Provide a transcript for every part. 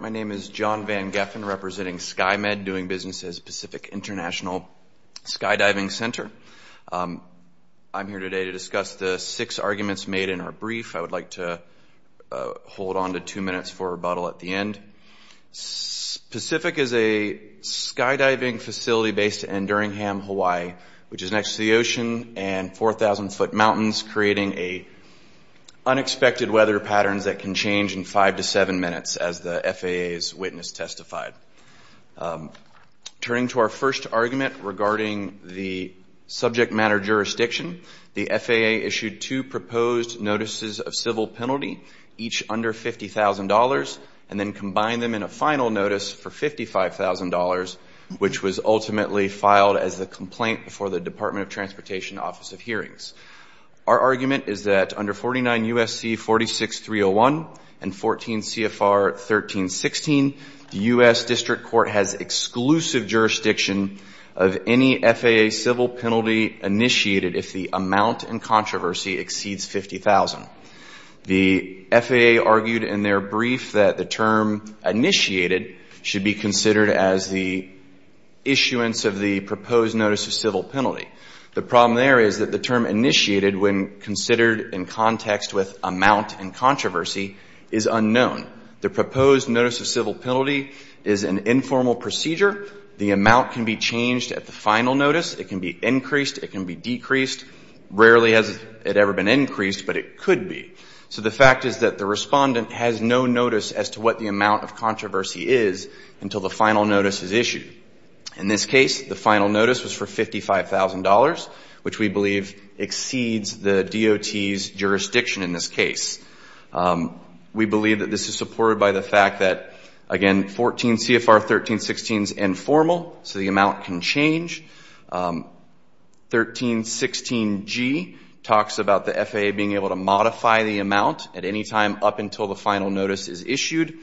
My name is John Van Geffen, representing Sky-Med, doing business as Pacific International Skydiving Center. I'm here today to discuss the six arguments made in our brief. I would like to hold on to two minutes for rebuttal at the end. Pacific is a skydiving facility based in Enduringham, Hawaii, which is next to the ocean and 4,000 foot mountains, creating unexpected weather patterns that can change in five to seven minutes, as the FAA's witness testified. Turning to our first argument regarding the subject matter jurisdiction, the FAA issued two proposed notices of civil penalty, each under $50,000, and then combined them in a final notice for $55,000, which was ultimately filed as the complaint before the Department of Transportation Office of Hearings. Our argument is that under 49 U.S.C. 46301 and 14 C.F.R. 1316, the U.S. District Court has exclusive jurisdiction of any FAA civil penalty initiated if the amount in controversy exceeds $50,000. The FAA argued in their brief that the term initiated should be considered as the issuance of the proposed notice of civil penalty. The problem there is that the term initiated, when considered in context with amount in controversy, is unknown. The proposed notice of civil penalty is an informal procedure. The amount can be changed at the final notice. It can be increased. It can be decreased. Rarely has it ever been increased, but it could be. So the fact is that the Respondent has no notice as to what the amount of controversy is until the final notice is issued. In this case, the final notice was for $55,000, which we believe exceeds the DOT's jurisdiction in this case. We believe that this is supported by the fact that, again, 14 C.F.R. 1316 is informal, so the amount can change. 1316G talks about the FAA being able to modify the amount at any time up until the final notice is issued.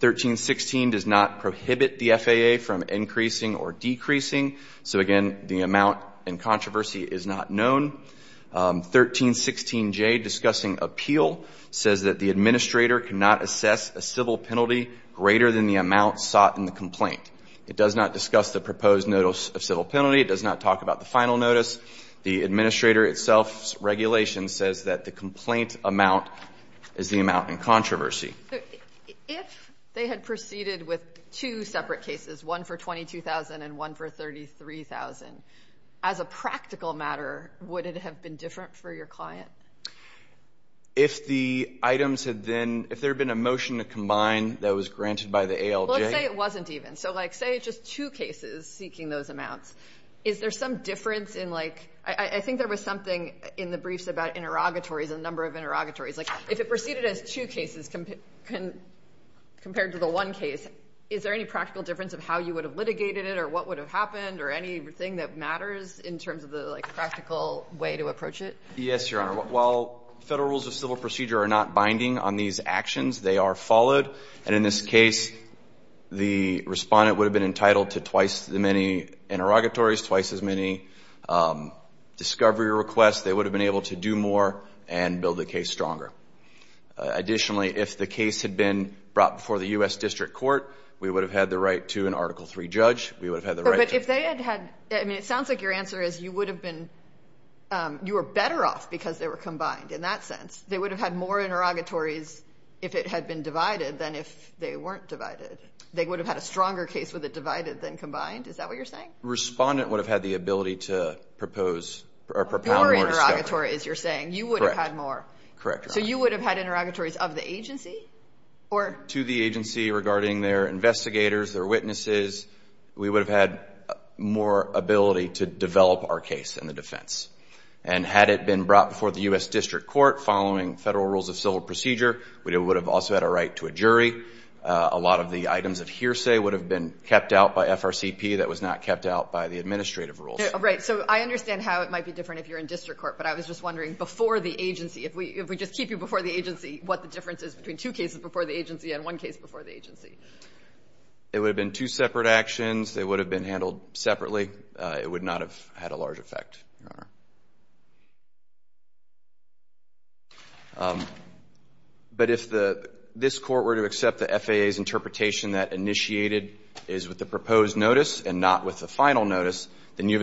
1316 does not prohibit the FAA from increasing or decreasing. So, again, the amount in controversy is not known. 1316J, discussing appeal, says that the Administrator cannot assess a civil penalty greater than the amount sought in the complaint. It does not discuss the proposed notice of civil penalty. It does not talk about the final notice. The Administrator itself's regulation says that the complaint amount is the amount in controversy. So if they had proceeded with two separate cases, one for $22,000 and one for $33,000, as a practical matter, would it have been different for your client? If the items had been — if there had been a motion to combine that was granted by the ALJ — Well, let's say it wasn't even. So, like, say it's just two cases seeking those amounts. Is there some difference in, like — I think there was something in the briefs about interrogatories and the number of interrogatories. Like, if it proceeded as two cases compared to the one case, is there any practical difference of how you would have litigated it or what would have happened or anything that matters in terms of the, like, practical way to approach it? Yes, Your Honor. While Federal rules of civil procedure are not binding on these actions, they are followed. And in this case, the Respondent would have been entitled to twice the many interrogatories, twice as many discovery requests. They would have been able to do more. And build the case stronger. Additionally, if the case had been brought before the U.S. District Court, we would have had the right to an Article III judge. We would have had the right to — But if they had had — I mean, it sounds like your answer is you would have been — you were better off because they were combined in that sense. They would have had more interrogatories if it had been divided than if they weren't divided. They would have had a stronger case with it divided than combined. Is that what you're saying? Respondent would have had the ability to propose — or propound more discovery. Interrogatory, as you're saying. Correct. You would have had more. Correct, Your Honor. So you would have had interrogatories of the agency? Or — To the agency regarding their investigators, their witnesses. We would have had more ability to develop our case in the defense. And had it been brought before the U.S. District Court following Federal rules of civil procedure, we would have also had a right to a jury. A lot of the items of hearsay would have been kept out by FRCP. That was not kept out by the administrative rules. Right. So I understand how it might be different if you're in district court. But I was just wondering, before the agency, if we just keep you before the agency, what the difference is between two cases before the agency and one case before the agency? It would have been two separate actions. They would have been handled separately. It would not have had a large effect, Your Honor. But if the — this Court were to accept the FAA's interpretation that initiated is with the proposed notice and not with the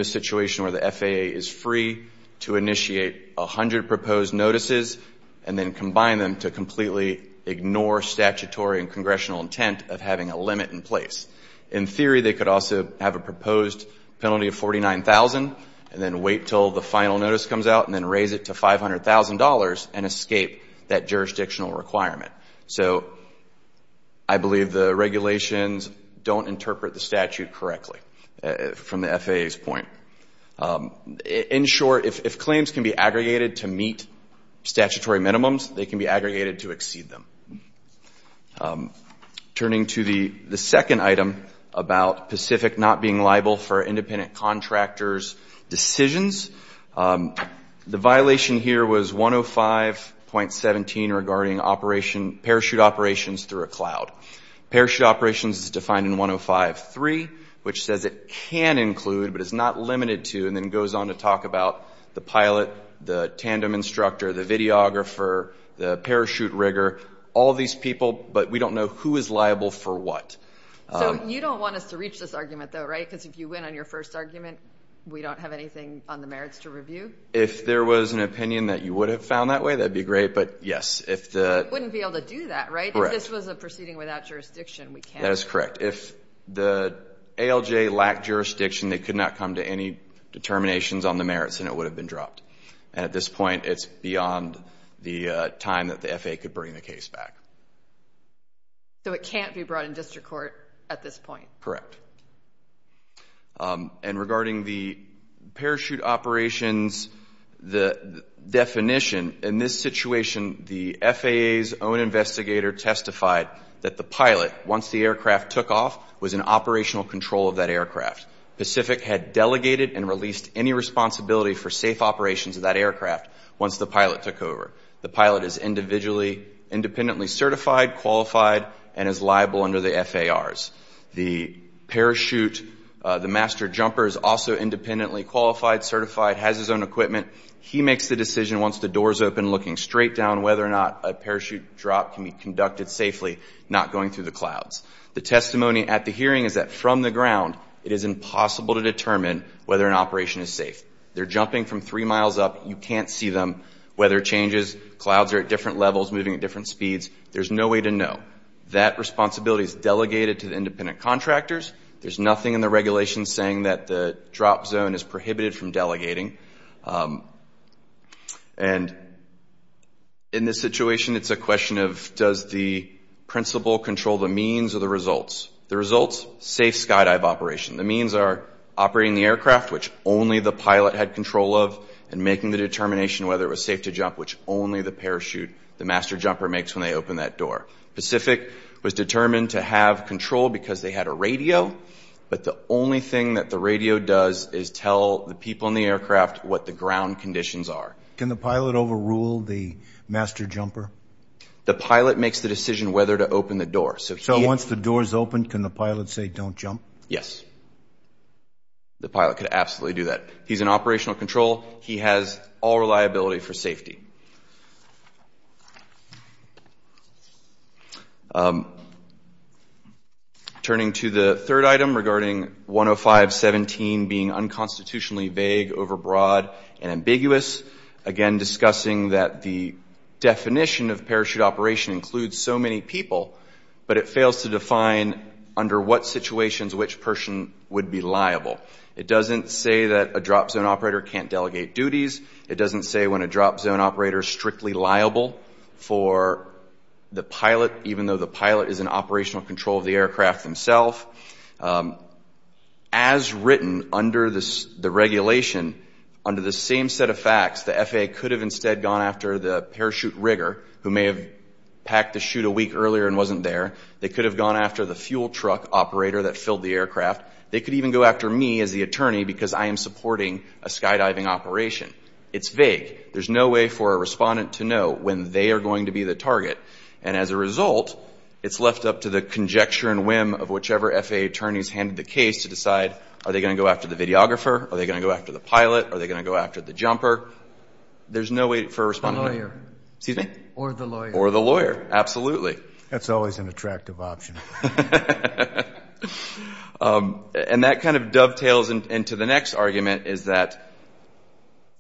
situation where the FAA is free to initiate a hundred proposed notices and then combine them to completely ignore statutory and congressional intent of having a limit in place, in theory they could also have a proposed penalty of $49,000 and then wait until the final notice comes out and then raise it to $500,000 and escape that jurisdictional requirement. So I believe the regulations don't interpret the statute correctly from the FAA's point. In short, if claims can be aggregated to meet statutory minimums, they can be aggregated to exceed them. Turning to the second item about Pacific not being liable for independent through a cloud. Parachute operations is defined in 105.3, which says it can include but is not limited to, and then goes on to talk about the pilot, the tandem instructor, the videographer, the parachute rigger, all these people, but we don't know who is liable for what. So you don't want us to reach this argument, though, right? Because if you win on your first argument, we don't have anything on the merits to review? If there was an opinion that you would have found that way, that'd be great. But yes, if the — You wouldn't be able to do that, right? If this was a proceeding without jurisdiction, we can. That is correct. If the ALJ lacked jurisdiction, they could not come to any determinations on the merits, and it would have been dropped. And at this point, it's beyond the time that the FAA could bring the case back. So it can't be brought in district court at this point? Correct. And regarding the parachute operations, the definition, in this situation, the FAA's own investigator testified that the pilot, once the aircraft took off, was in operational control of that aircraft. Pacific had delegated and released any responsibility for safe operations of that aircraft once the pilot took over. The pilot is independently certified, qualified, and is liable under the FARs. The parachute, the master jumper is also independently qualified, certified, has his He makes the decision once the door is open, looking straight down whether or not a parachute drop can be conducted safely, not going through the clouds. The testimony at the hearing is that from the ground, it is impossible to determine whether an operation is safe. They're jumping from three miles up. You can't see them. Weather changes, clouds are at different levels, moving at different speeds. There's no way to know. That responsibility is delegated to the independent contractors. There's nothing in the regulations saying that the drop zone is prohibited from delegating. And in this situation, it's a question of does the principal control the means or the results? The results, safe skydive operation. The means are operating the aircraft, which only the pilot had control of, and making the determination whether it was safe to jump, which only the parachute, the master jumper, makes when they open that door. Pacific was determined to have control because they had a radio, but the only thing that the ground conditions are. Can the pilot overrule the master jumper? The pilot makes the decision whether to open the door. So once the door is open, can the pilot say don't jump? Yes. The pilot could absolutely do that. He's in operational control. He has all reliability for safety. Turning to the third item regarding 105.17 being unconstitutionally vague, overbroad, and ambiguous. Again, discussing that the definition of parachute operation includes so many people, but it fails to define under what situations which person would be liable. It doesn't say that a drop zone operator can't delegate duties. It doesn't say when a drop zone operator is strictly liable for the pilot, even though the pilot is in operational control of the aircraft himself. As written under the regulation, under the same set of facts, the FAA could have instead gone after the parachute rigger, who may have packed the chute a week earlier and wasn't there. They could have gone after the fuel truck operator that filled the aircraft. They could even go after me as the attorney because I am supporting a skydiving operation. It's vague. There's no way for a respondent to know when they are going to be the target. And as a result, it's left up to the conjecture and whim of whichever FAA attorneys handed the case to decide, are they going to go after the videographer? Are they going to go after the pilot? Are they going to go after the jumper? There's no way for a respondent to know. The lawyer. Excuse me? Or the lawyer. Or the lawyer. Absolutely. That's always an attractive option. And that kind of dovetails into the next argument, is that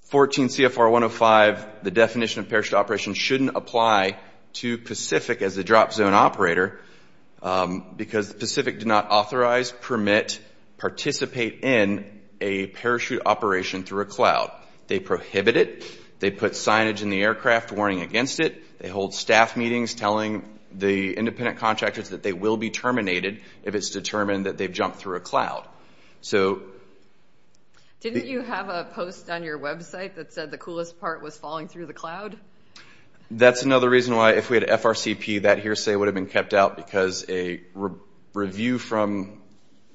14 CFR 105, the definition of parachute operation shouldn't apply to Pacific as a drop zone operator because Pacific did not authorize, permit, participate in a parachute operation through a cloud. They prohibit it. They put signage in the aircraft warning against it. They hold staff meetings telling the independent contractors that they will be terminated if it's determined that they've jumped through a cloud. So... Didn't you have a post on your website that said the coolest part was falling through the cloud? That's another reason why if we had FRCP, that hearsay would have been kept out because a review from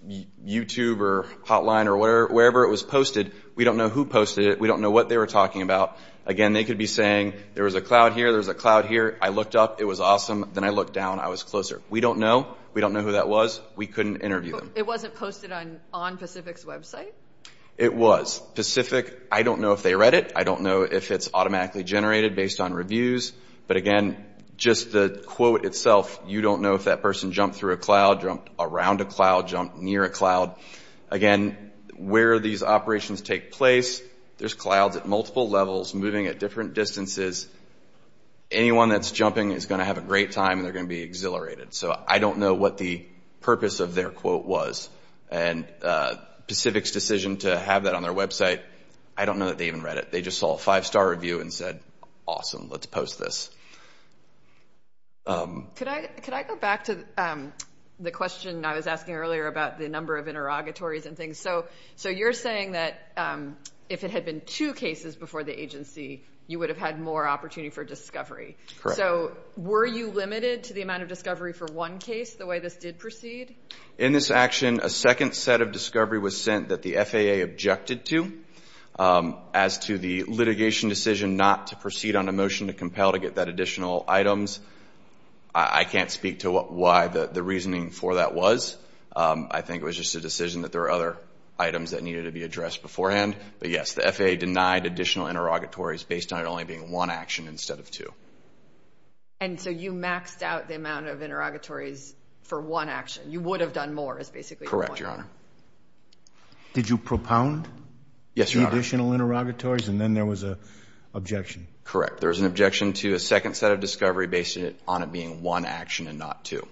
YouTube or Hotline or wherever it was posted, we don't know who posted it. We don't know what they were talking about. Again, they could be saying there was a cloud here, there was a cloud here. I looked up. It was awesome. Then I looked down. I was closer. We don't know. We don't know who that was. We couldn't interview them. It wasn't posted on Pacific's website? It was. Pacific, I don't know if they read it. I don't know if it's automatically generated based on reviews. But again, just the quote itself, you don't know if that person jumped through a cloud, jumped around a cloud, jumped near a cloud. Again, where these operations take place, there's clouds at multiple levels moving at different distances. Anyone that's jumping is going to have a great time and they're going to be exhilarated. So I don't know what the purpose of their quote was. And Pacific's decision to have that on their website, I don't know that they even read it. They just saw a five-star review and said, awesome, let's post this. Could I go back to the question I was asking earlier about the number of interrogatories and things? So you're saying that if it had been two cases before the agency, you would have had more opportunity for discovery. So were you limited to the amount of discovery for one case the way this did proceed? In this action, a second set of discovery was sent that the FAA objected to as to the litigation decision not to proceed on a motion to compel to get that additional items. I can't speak to why the reasoning for that was. I think it was just a decision that there are other items that needed to be addressed beforehand. But yes, the FAA denied additional interrogatories based on it only being one action instead of two. And so you maxed out the amount of interrogatories for one action. You would have done more, is basically your point. Correct, Your Honor. Did you propound to additional interrogatories and then there was an objection? Correct. There was an objection to a second set of discovery based on it being one action and not two.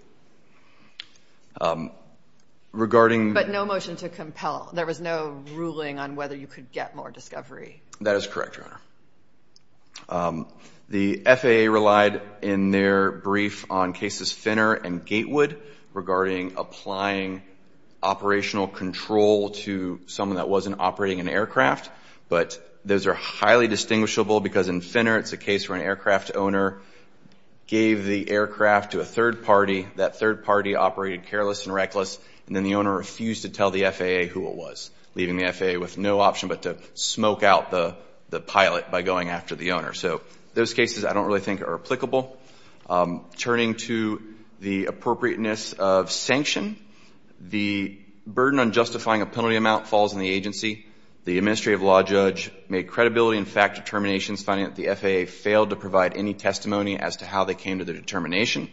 But no motion to compel. There was no ruling on whether you could get more discovery. That is correct, Your Honor. The FAA relied in their brief on cases Finner and Gatewood regarding applying operational control to someone that wasn't operating an aircraft. But those are highly distinguishable because in Finner, it's a case where an aircraft owner gave the aircraft to a third party. That third party operated careless and reckless. And then the owner refused to tell the FAA who it was, leaving the FAA with no option but to smoke out the pilot by going after the owner. So those cases I don't really think are applicable. Turning to the appropriateness of sanction, the burden on justifying a penalty amount falls on the agency. The administrative law judge made credibility and fact determinations finding that the FAA failed to provide any testimony as to how they came to the determination.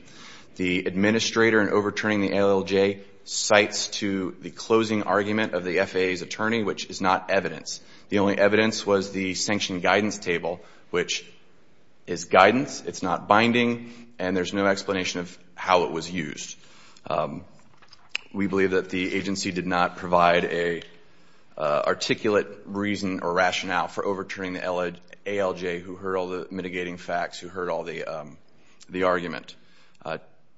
The administrator in overturning the ALLJ cites to the closing argument of the FAA's attorney, which is not evidence. The only evidence was the sanction guidance table, which is guidance, it's not binding, and there's no explanation of how it was used. We believe that the agency did not provide an articulate reason or rationale for overturning the ALLJ, who heard all the mitigating facts, who heard all the argument.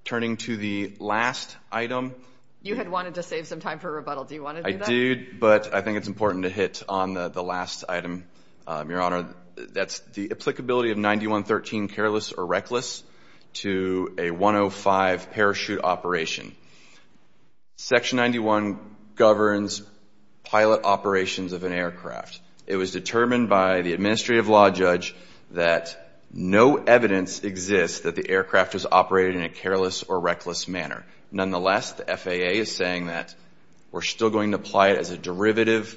Turning to the last item. You had wanted to save some time for a rebuttal. Do you want to do that? I do, but I think it's important to hit on the last item, Your Honor. That's the applicability of 9113, careless or reckless, to a 105 parachute operation. Section 91 governs pilot operations of an aircraft. It was determined by the administrative law judge that no evidence exists that the aircraft was operated in a careless or reckless manner. Nonetheless, the FAA is saying that we're still going to apply it as a derivative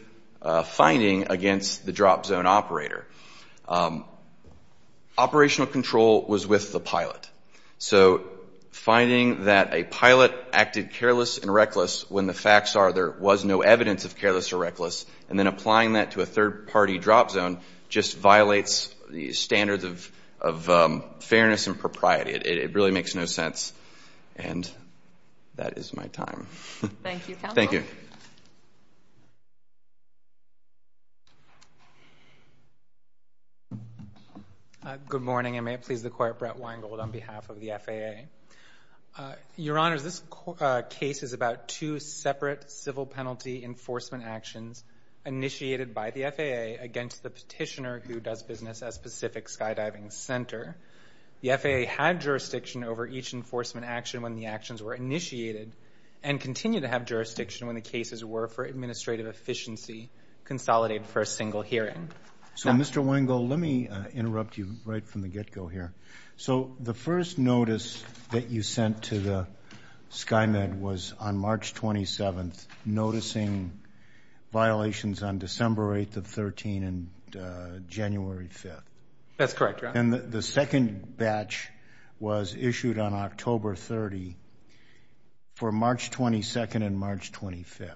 finding against the drop zone operator. Operational control was with the pilot. So, finding that a pilot acted careless and reckless when the facts are there was no evidence of careless or reckless, and then applying that to a third-party drop zone just violates the standards of fairness and propriety. It really makes no sense, and that is my time. Thank you, counsel. Thank you. Good morning, and may it please the Court, Brett Weingold on behalf of the FAA. Your Honor, this case is about two separate civil penalty enforcement actions initiated by the FAA against the petitioner who does business as Pacific Skydiving Center. The FAA had jurisdiction over each enforcement action when the actions were initiated, and continue to have jurisdiction when the cases were, for administrative efficiency, consolidated for a single hearing. So, Mr. Weingold, let me interrupt you right from the get-go here. So, the first notice that you sent to the SkyMed was on March 27th, noticing violations on December 8th of 13 and January 5th. That's correct, Your Honor. And the second batch was issued on October 30 for March 22nd and March 25th.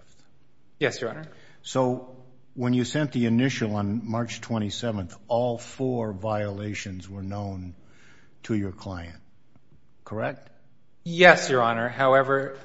Yes, Your Honor. So, when you sent the initial on March 27th, all four violations were known to your client? Correct? Yes, Your Honor. However,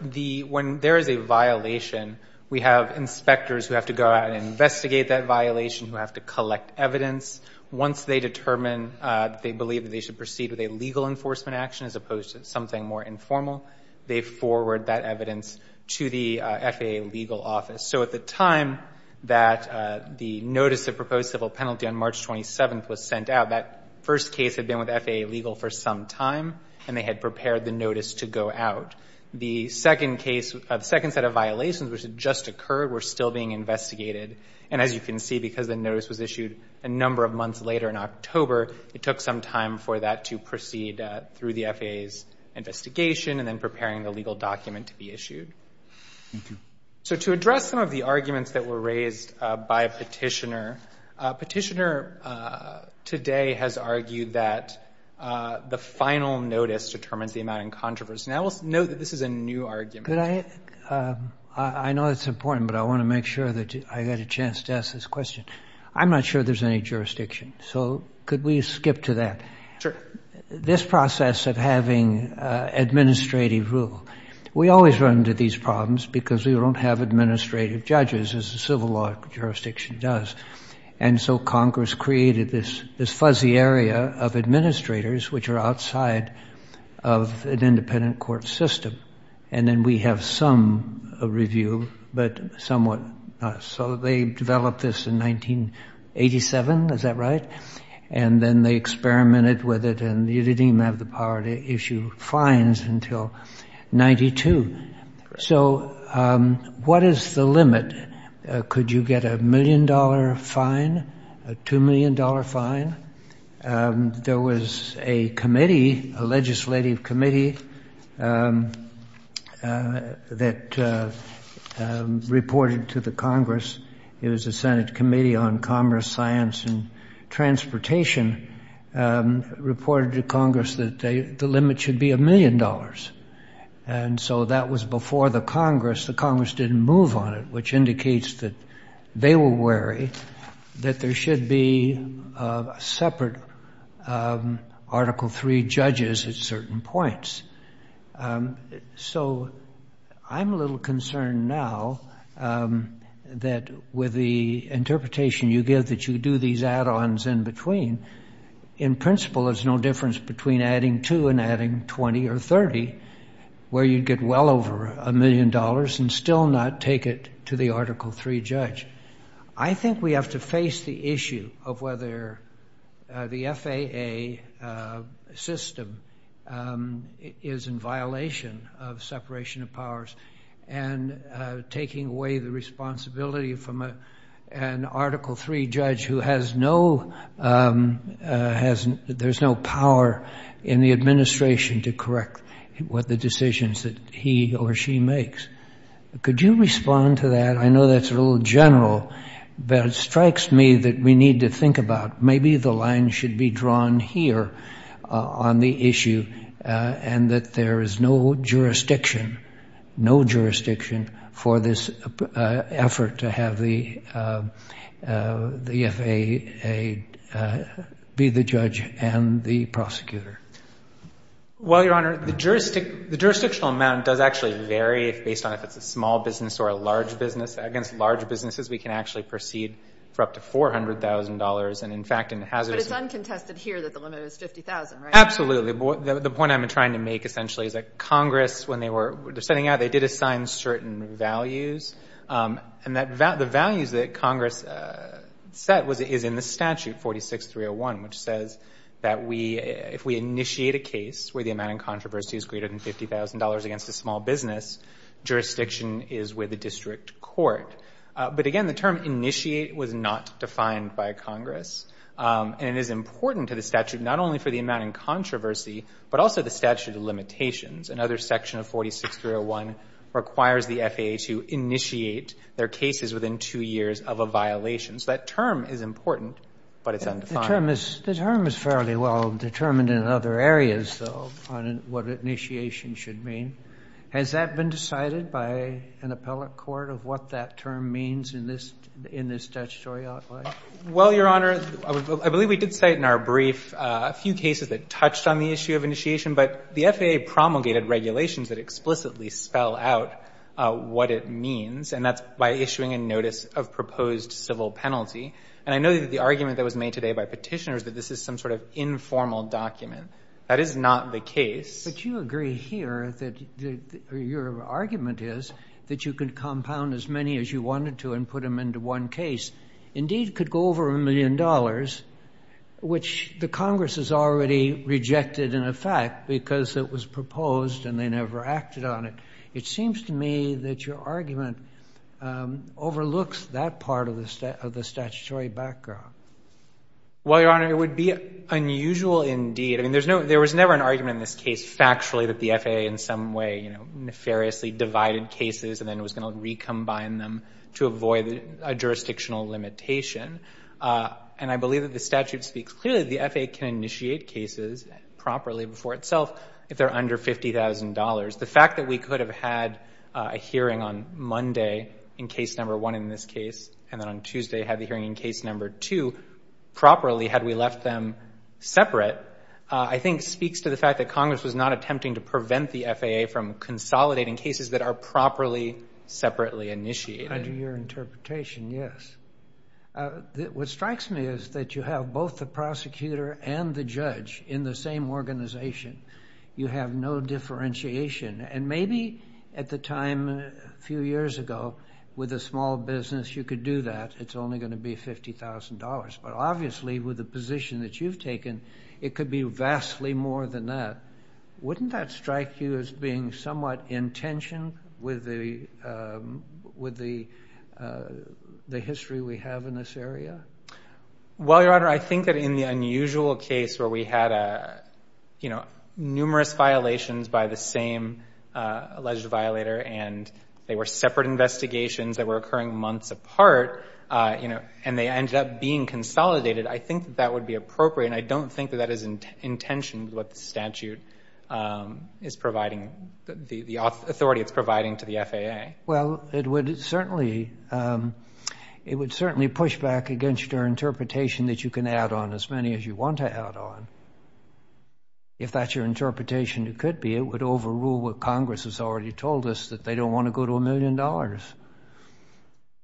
when there is a violation, we have inspectors who have to go out and investigate that violation, who have to collect evidence. Once they determine that they believe that they should proceed with a legal enforcement action as opposed to something more informal, they forward that evidence to the FAA legal office. So, at the time that the notice that proposed civil penalty on March 27th was sent out, that first case had been with FAA legal for some time and they had prepared the notice to go out. The second case, the second set of violations which had just occurred were still being investigated. And as you can see, because the notice was issued a number of months later in October, it took some time for that to proceed through the FAA's investigation and then preparing the legal document to be issued. So, to address some of the arguments that were raised by a petitioner today has argued that the final notice determines the amount in controversy. Now, let's note that this is a new argument. Could I? I know it's important, but I want to make sure that I got a chance to ask this question. I'm not sure there's any jurisdiction. So, could we skip to that? Sure. This process of having administrative rule, we always run into these problems because we don't have administrative judges as a civil law jurisdiction does. And so, Congress created this fuzzy area of administrators which are outside of an independent court system. And then we have some review, but somewhat not. So, they developed this in 1987, is that right? And then they what is the limit? Could you get a million dollar fine, a two million dollar fine? There was a committee, a legislative committee that reported to the Congress. It was the Senate Committee on Commerce, Science, and Transportation reported to Congress that the limit should be a And so, that was before the Congress. The Congress didn't move on it, which indicates that they were wary that there should be a separate Article III judges at certain points. So, I'm a little concerned now that with the interpretation you give that you do these where you'd get well over a million dollars and still not take it to the Article III judge. I think we have to face the issue of whether the FAA system is in violation of separation of powers and taking away the responsibility from an Article III judge who has no, has, there's no power in the administration to correct what the decisions that he or she makes. Could you respond to that? I know that's a little general, but it strikes me that we need to think about maybe the line should be drawn here on the issue and that there is no jurisdiction, no jurisdiction, for this effort to have the FAA be the judge and the prosecutor. Well, Your Honor, the jurisdictional amount does actually vary based on if it's a small business or a large business. Against large businesses, we can actually proceed for up to $400,000 and, in fact, in hazardous... But it's uncontested here that the limit is $50,000, right? Absolutely. The point I'm trying to make essentially is that Congress, when they were setting out, they did assign certain values. And the values that Congress set is in the statute 46301, which says that if we initiate a case where the amount in controversy is greater than $50,000 against a small business, jurisdiction is with the district court. But again, the term initiate was not defined by Congress. And it is important to the statute, not only for the amount in controversy, but also the statute of limitations. Another section of 46301 requires the FAA to initiate their cases within two years of a violation. So that term is important, but it's undefined. The term is fairly well determined in other areas, though, on what initiation should mean. Has that been decided by an appellate court of what that term means in this statutory outline? Well, Your Honor, I believe we did cite in our brief a few cases that touched on the issue of initiation, but the FAA promulgated regulations that explicitly spell out what it means, and that's by issuing a notice of proposed civil penalty. And I know that the argument that was made today by petitioners that this is some sort of informal document. That is not the case. But you agree here that your argument is that you could compound as many as you wanted to and put them into one case, indeed could go over a million dollars, which the Congress has already rejected in effect because it was proposed and they never acted on it. It seems to me that your argument overlooks that part of the statutory background. Well, Your Honor, it would be unusual indeed. I mean, there was never an argument in this case factually that the FAA in some way, nefariously divided cases and then was going to recombine them to avoid a jurisdictional limitation. And I believe that the statute speaks clearly the FAA can initiate cases properly before itself if they're under $50,000. The fact that we could have had a hearing on Monday in case number one in this case and then on Tuesday had the hearing in case number two properly had we left them separate, I think speaks to the fact that Congress was not attempting to prevent the FAA from consolidating cases that are properly separately initiated. Under your interpretation, yes. What strikes me is that you have both the prosecutor and the judge in the same organization. You have no differentiation. And maybe at the time a few years ago, with a small business, you could do that. It's only going to be $50,000. But obviously, with the position that you've taken, it could be vastly more than that. Wouldn't that strike you as being somewhat in tension with the history we have in this area? Well, Your Honor, I think that in the unusual case where we had numerous violations by the same alleged violator, and they were separate investigations that were occurring months apart, and they ended up being consolidated, I think that would be in tension with what the statute is providing, the authority it's providing to the FAA. Well, it would certainly push back against your interpretation that you can add on as many as you want to add on. If that's your interpretation, it could be. It would overrule what Congress has already told us, that they don't want to go to a million dollars.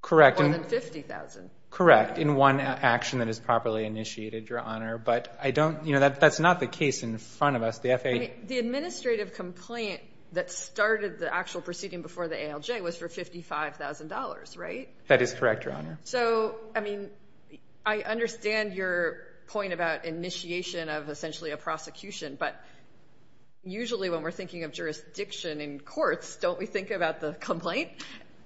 Correct. More than $50,000. Correct. In one action that is properly initiated, Your Honor. But that's not the case in front of us. The FAA... I mean, the administrative complaint that started the actual proceeding before the ALJ was for $55,000, right? That is correct, Your Honor. So, I mean, I understand your point about initiation of essentially a prosecution. But usually when we're thinking of jurisdiction in courts, don't we think about the complaint?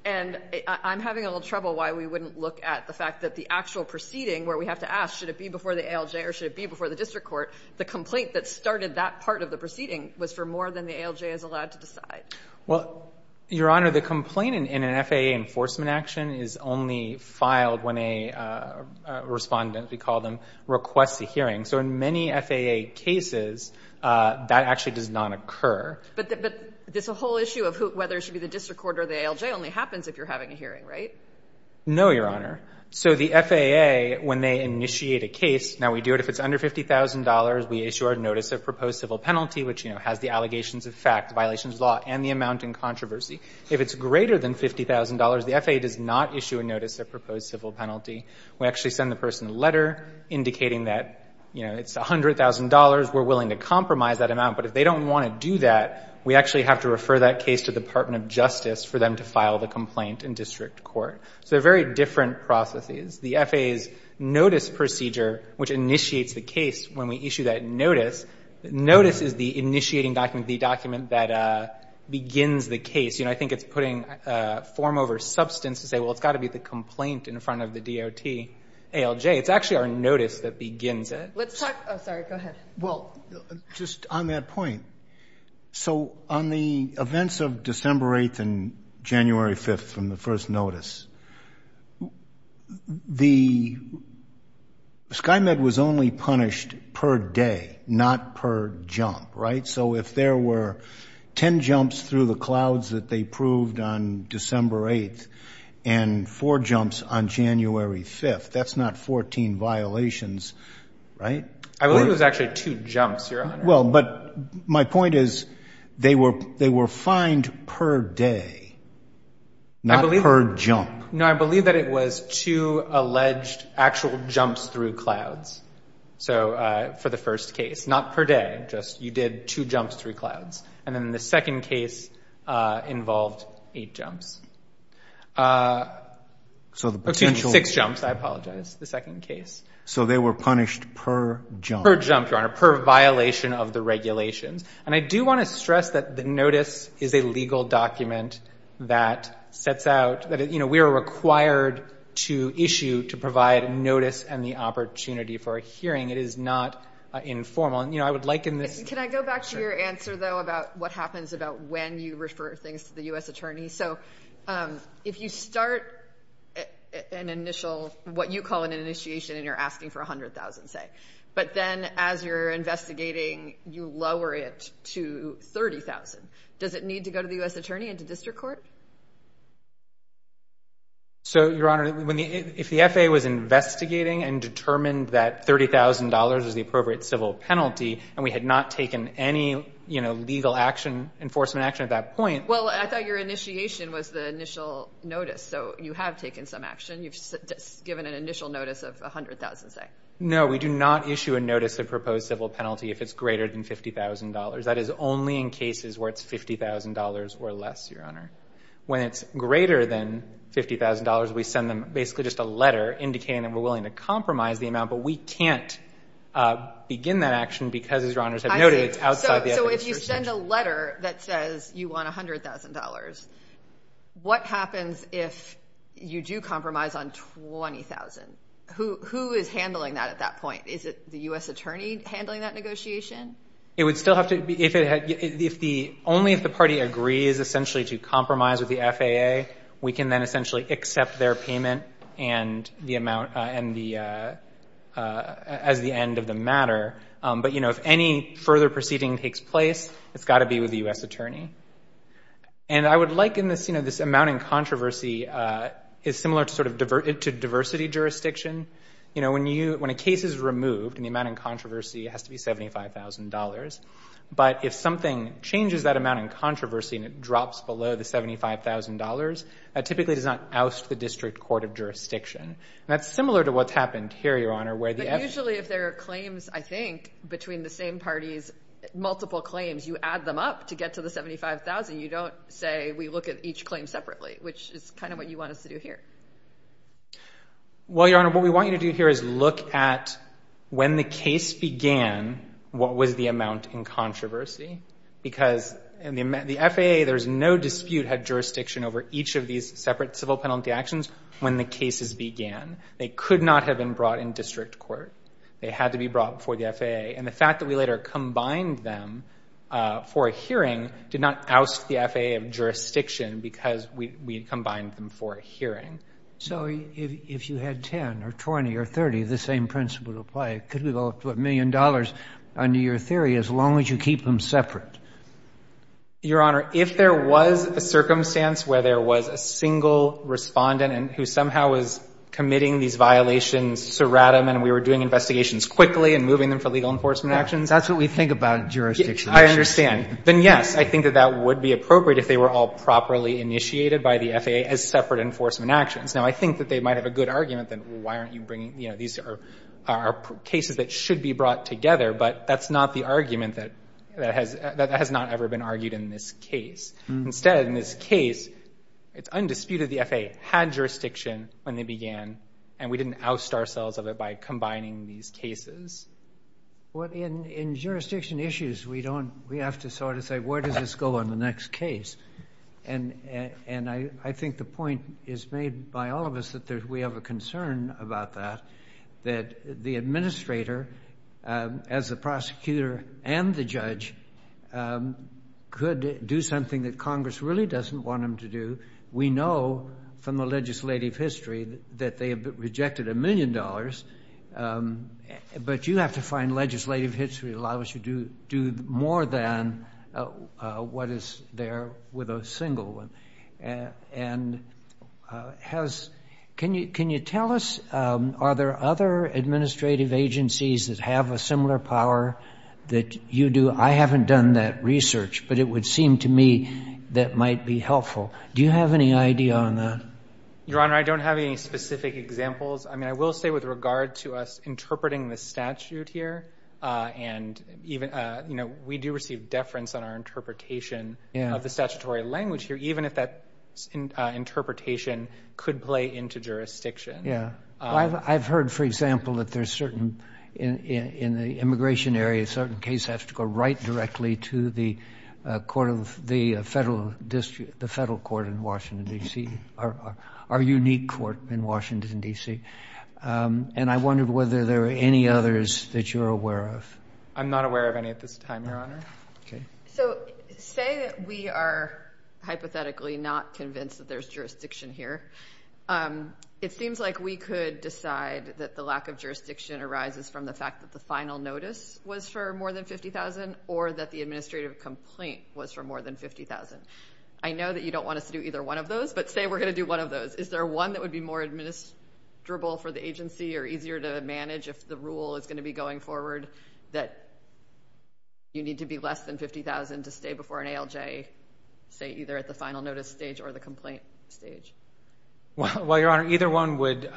And I'm having a little trouble why we wouldn't look at the fact that the actual proceeding, where we have to ask, should it be before the ALJ or should it be before the district court, the complaint that started that part of the proceeding was for more than the ALJ is allowed to decide. Well, Your Honor, the complaint in an FAA enforcement action is only filed when a respondent, we call them, requests a hearing. So in many FAA cases, that actually does not occur. But this whole issue of whether it should be the district court or the ALJ only happens if you're having a hearing, right? No, Your Honor. So the FAA, when they initiate a case, now we do it if it's under $50,000, we issue our notice of proposed civil penalty, which, you know, has the allegations of fact, violations of law, and the amount in controversy. If it's greater than $50,000, the FAA does not issue a notice of proposed civil penalty. We actually send the person a letter indicating that, you know, it's $100,000. We're willing to compromise that amount. But if they don't want to do that, we actually have to refer that case to the Department of Justice for them to file the complaint in district court. So they're very different processes. The FAA's notice procedure, which initiates the case when we issue that notice, notice is the initiating document, the document that begins the case. You know, I think it's putting form over substance to say, well, it's got to be the complaint in front of the DOT, ALJ. It's actually our notice that begins it. Let's talk, oh, sorry, go ahead. Well, just on that point. So on the events of December 8th and January 5th from the first notice, the SkyMed was only punished per day, not per jump, right? So if there were 10 jumps through the clouds that they proved on December 8th, and four jumps on January 5th, that's not 14 violations, right? I believe it was actually two jumps, Your Honor. Well, but my point is they were fined per day, not per jump. No, I believe that it was two alleged actual jumps through clouds. So for the first case, not per day, just you did two jumps through clouds. And the second case involved eight jumps. So the potential. Six jumps, I apologize, the second case. So they were punished per jump. Per jump, Your Honor, per violation of the regulations. And I do want to stress that the notice is a legal document that sets out that, you know, we are required to issue to provide a notice and the opportunity for a hearing. It is not informal. You know, I would liken this. Can I go back to your answer, though, about what happens about when you refer things to the U.S. Attorney? So if you start an initial, what you call an initiation and you're asking for $100,000, say, but then as you're investigating, you lower it to $30,000. Does it need to go to the U.S. Attorney and to district court? So, Your Honor, if the FAA was investigating and determined that $30,000 was the appropriate civil penalty and we had not taken any, you know, legal action, enforcement action at that point. Well, I thought your initiation was the initial notice. So you have taken some action. You've given an initial notice of $100,000, say. No, we do not issue a notice of proposed civil penalty if it's greater than $50,000. That is only in cases where it's $50,000 or less, Your Honor. When it's greater than $50,000, we send them basically just a letter indicating that we're willing to compromise the amount. But we can't begin that action because, as Your Honors have noted, it's outside the FAA's jurisdiction. I see. So if you send a letter that says you want $100,000, what happens if you do compromise on $20,000? Who is handling that at that point? Is it the U.S. Attorney handling that negotiation? It would still have to be, if it had, if the, only if the party agrees essentially to compromise with the FAA, we can then essentially accept their payment and the amount, and the, as the end of the matter. But, you know, if any further proceeding takes place, it's got to be with the U.S. Attorney. And I would liken this, you know, this amount in controversy is similar to sort of, to diversity jurisdiction. You know, when you, when a case is removed and the amount in controversy has to be $75,000, but if something changes that amount in controversy and it drops below the $75,000, that typically does not oust the district court of jurisdiction. And that's similar to what's happened here, Your Honor, where the FAA... But usually if there are claims, I think, between the same parties, multiple claims, you add them up to get to the $75,000. You don't say we look at each claim separately, which is kind of what you want us to do here. Well, Your Honor, what we want you to do here is look at when the case began, what was the amount in controversy. Because in the FAA, there's no dispute had jurisdiction over each of these separate civil penalty actions when the cases began. They could not have been brought in district court. They had to be brought before the FAA. And the fact that we later combined them for a hearing did not oust the FAA of jurisdiction because we combined them for a hearing. So if you had 10 or 20 or 30, the same principle would apply. Could we go up to a million dollars under your theory as long as you keep them separate? Your Honor, if there was a circumstance where there was a single Respondent who somehow was committing these violations seratam and we were doing investigations quickly and moving them for legal enforcement actions... That's what we think about jurisdiction actions. I understand. Then, yes, I think that that would be appropriate if they were all properly initiated by the FAA as separate enforcement actions. Now, I think that they might have a good argument that, well, why aren't you bringing, you know, these are cases that should be brought together, but that's not the argument that has not ever been argued in this case. Instead, in this case, it's undisputed the FAA had jurisdiction when they began, and we didn't oust ourselves of it by combining these cases. Well, in jurisdiction issues, we have to sort of say, where does this go on the next case? And I think the point is made by all of us that we have a concern about that, that the Administrator, as the Prosecutor and the Judge, could do something that Congress really doesn't want them to do. We know from the legislative history that they have rejected a million dollars, but you have to find legislative history that allows you to do more than what is there with a single one. And can you tell us, are there other administrative agencies that have a similar power that you do? I haven't done that research, but it would seem to me that might be helpful. Do you have any idea on that? Your Honor, I don't have any specific examples. I mean, I will say with regard to us interpreting the statute here, and even, you know, we do receive deference on our interpretation of the statutory language here, even if that interpretation could play into jurisdiction. Yeah. I've heard, for example, that there's certain, in the immigration area, a certain case has to go right directly to the Court of the Federal District, the Federal Court in Washington, D.C., our unique court in Washington, D.C. And I wondered whether there are any others that you're aware of. I'm not aware of any at this time, Your Honor. Okay. So say that we are hypothetically not convinced that there's jurisdiction here. It seems like we could decide that the lack of jurisdiction arises from the fact that the final notice was for more than $50,000 or that the administrative complaint was for more than $50,000. I know that you don't want us to do either one of those, but say we're going to do one of those. Is there one that would be more administrable for the agency or easier to manage if the rule is going to be going forward that you need to be less than $50,000 to stay before an ALJ, say, either at the final notice stage or the complaint stage? Well, Your Honor, either one would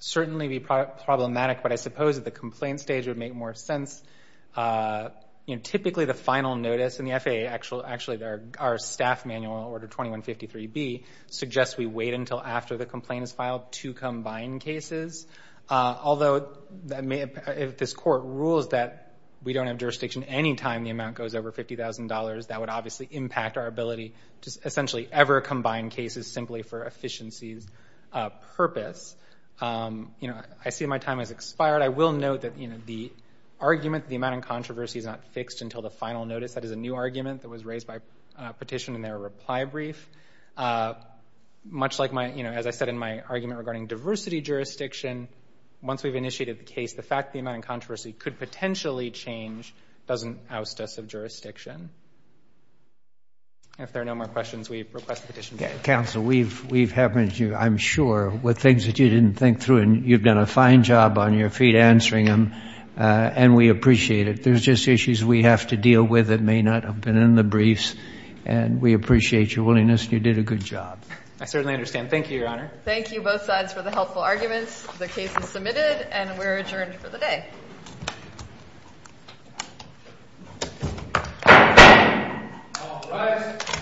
certainly be problematic, but I suppose that the complaint stage would make more sense. Typically, the final notice in the FAA, actually, our staff manual, Order 2153B, suggests we wait until after the complaint is filed to combine cases. Although, if this court rules that we don't have jurisdiction any time the amount goes over $50,000, that would obviously impact our ability to essentially ever combine cases simply for the argument the amount of controversy is not fixed until the final notice. That is a new argument that was raised by petition in their reply brief. Much like my, you know, as I said in my argument regarding diversity jurisdiction, once we've initiated the case, the fact the amount of controversy could potentially change doesn't oust us of jurisdiction. If there are no more questions, we request the petition. Counsel, we've happened to you, I'm sure, with things that you didn't think through, you've done a fine job on your feet answering them, and we appreciate it. There's just issues we have to deal with that may not have been in the briefs, and we appreciate your willingness, and you did a good job. I certainly understand. Thank you, Your Honor. Thank you, both sides, for the helpful arguments. The case is submitted, and we're adjourned for the day.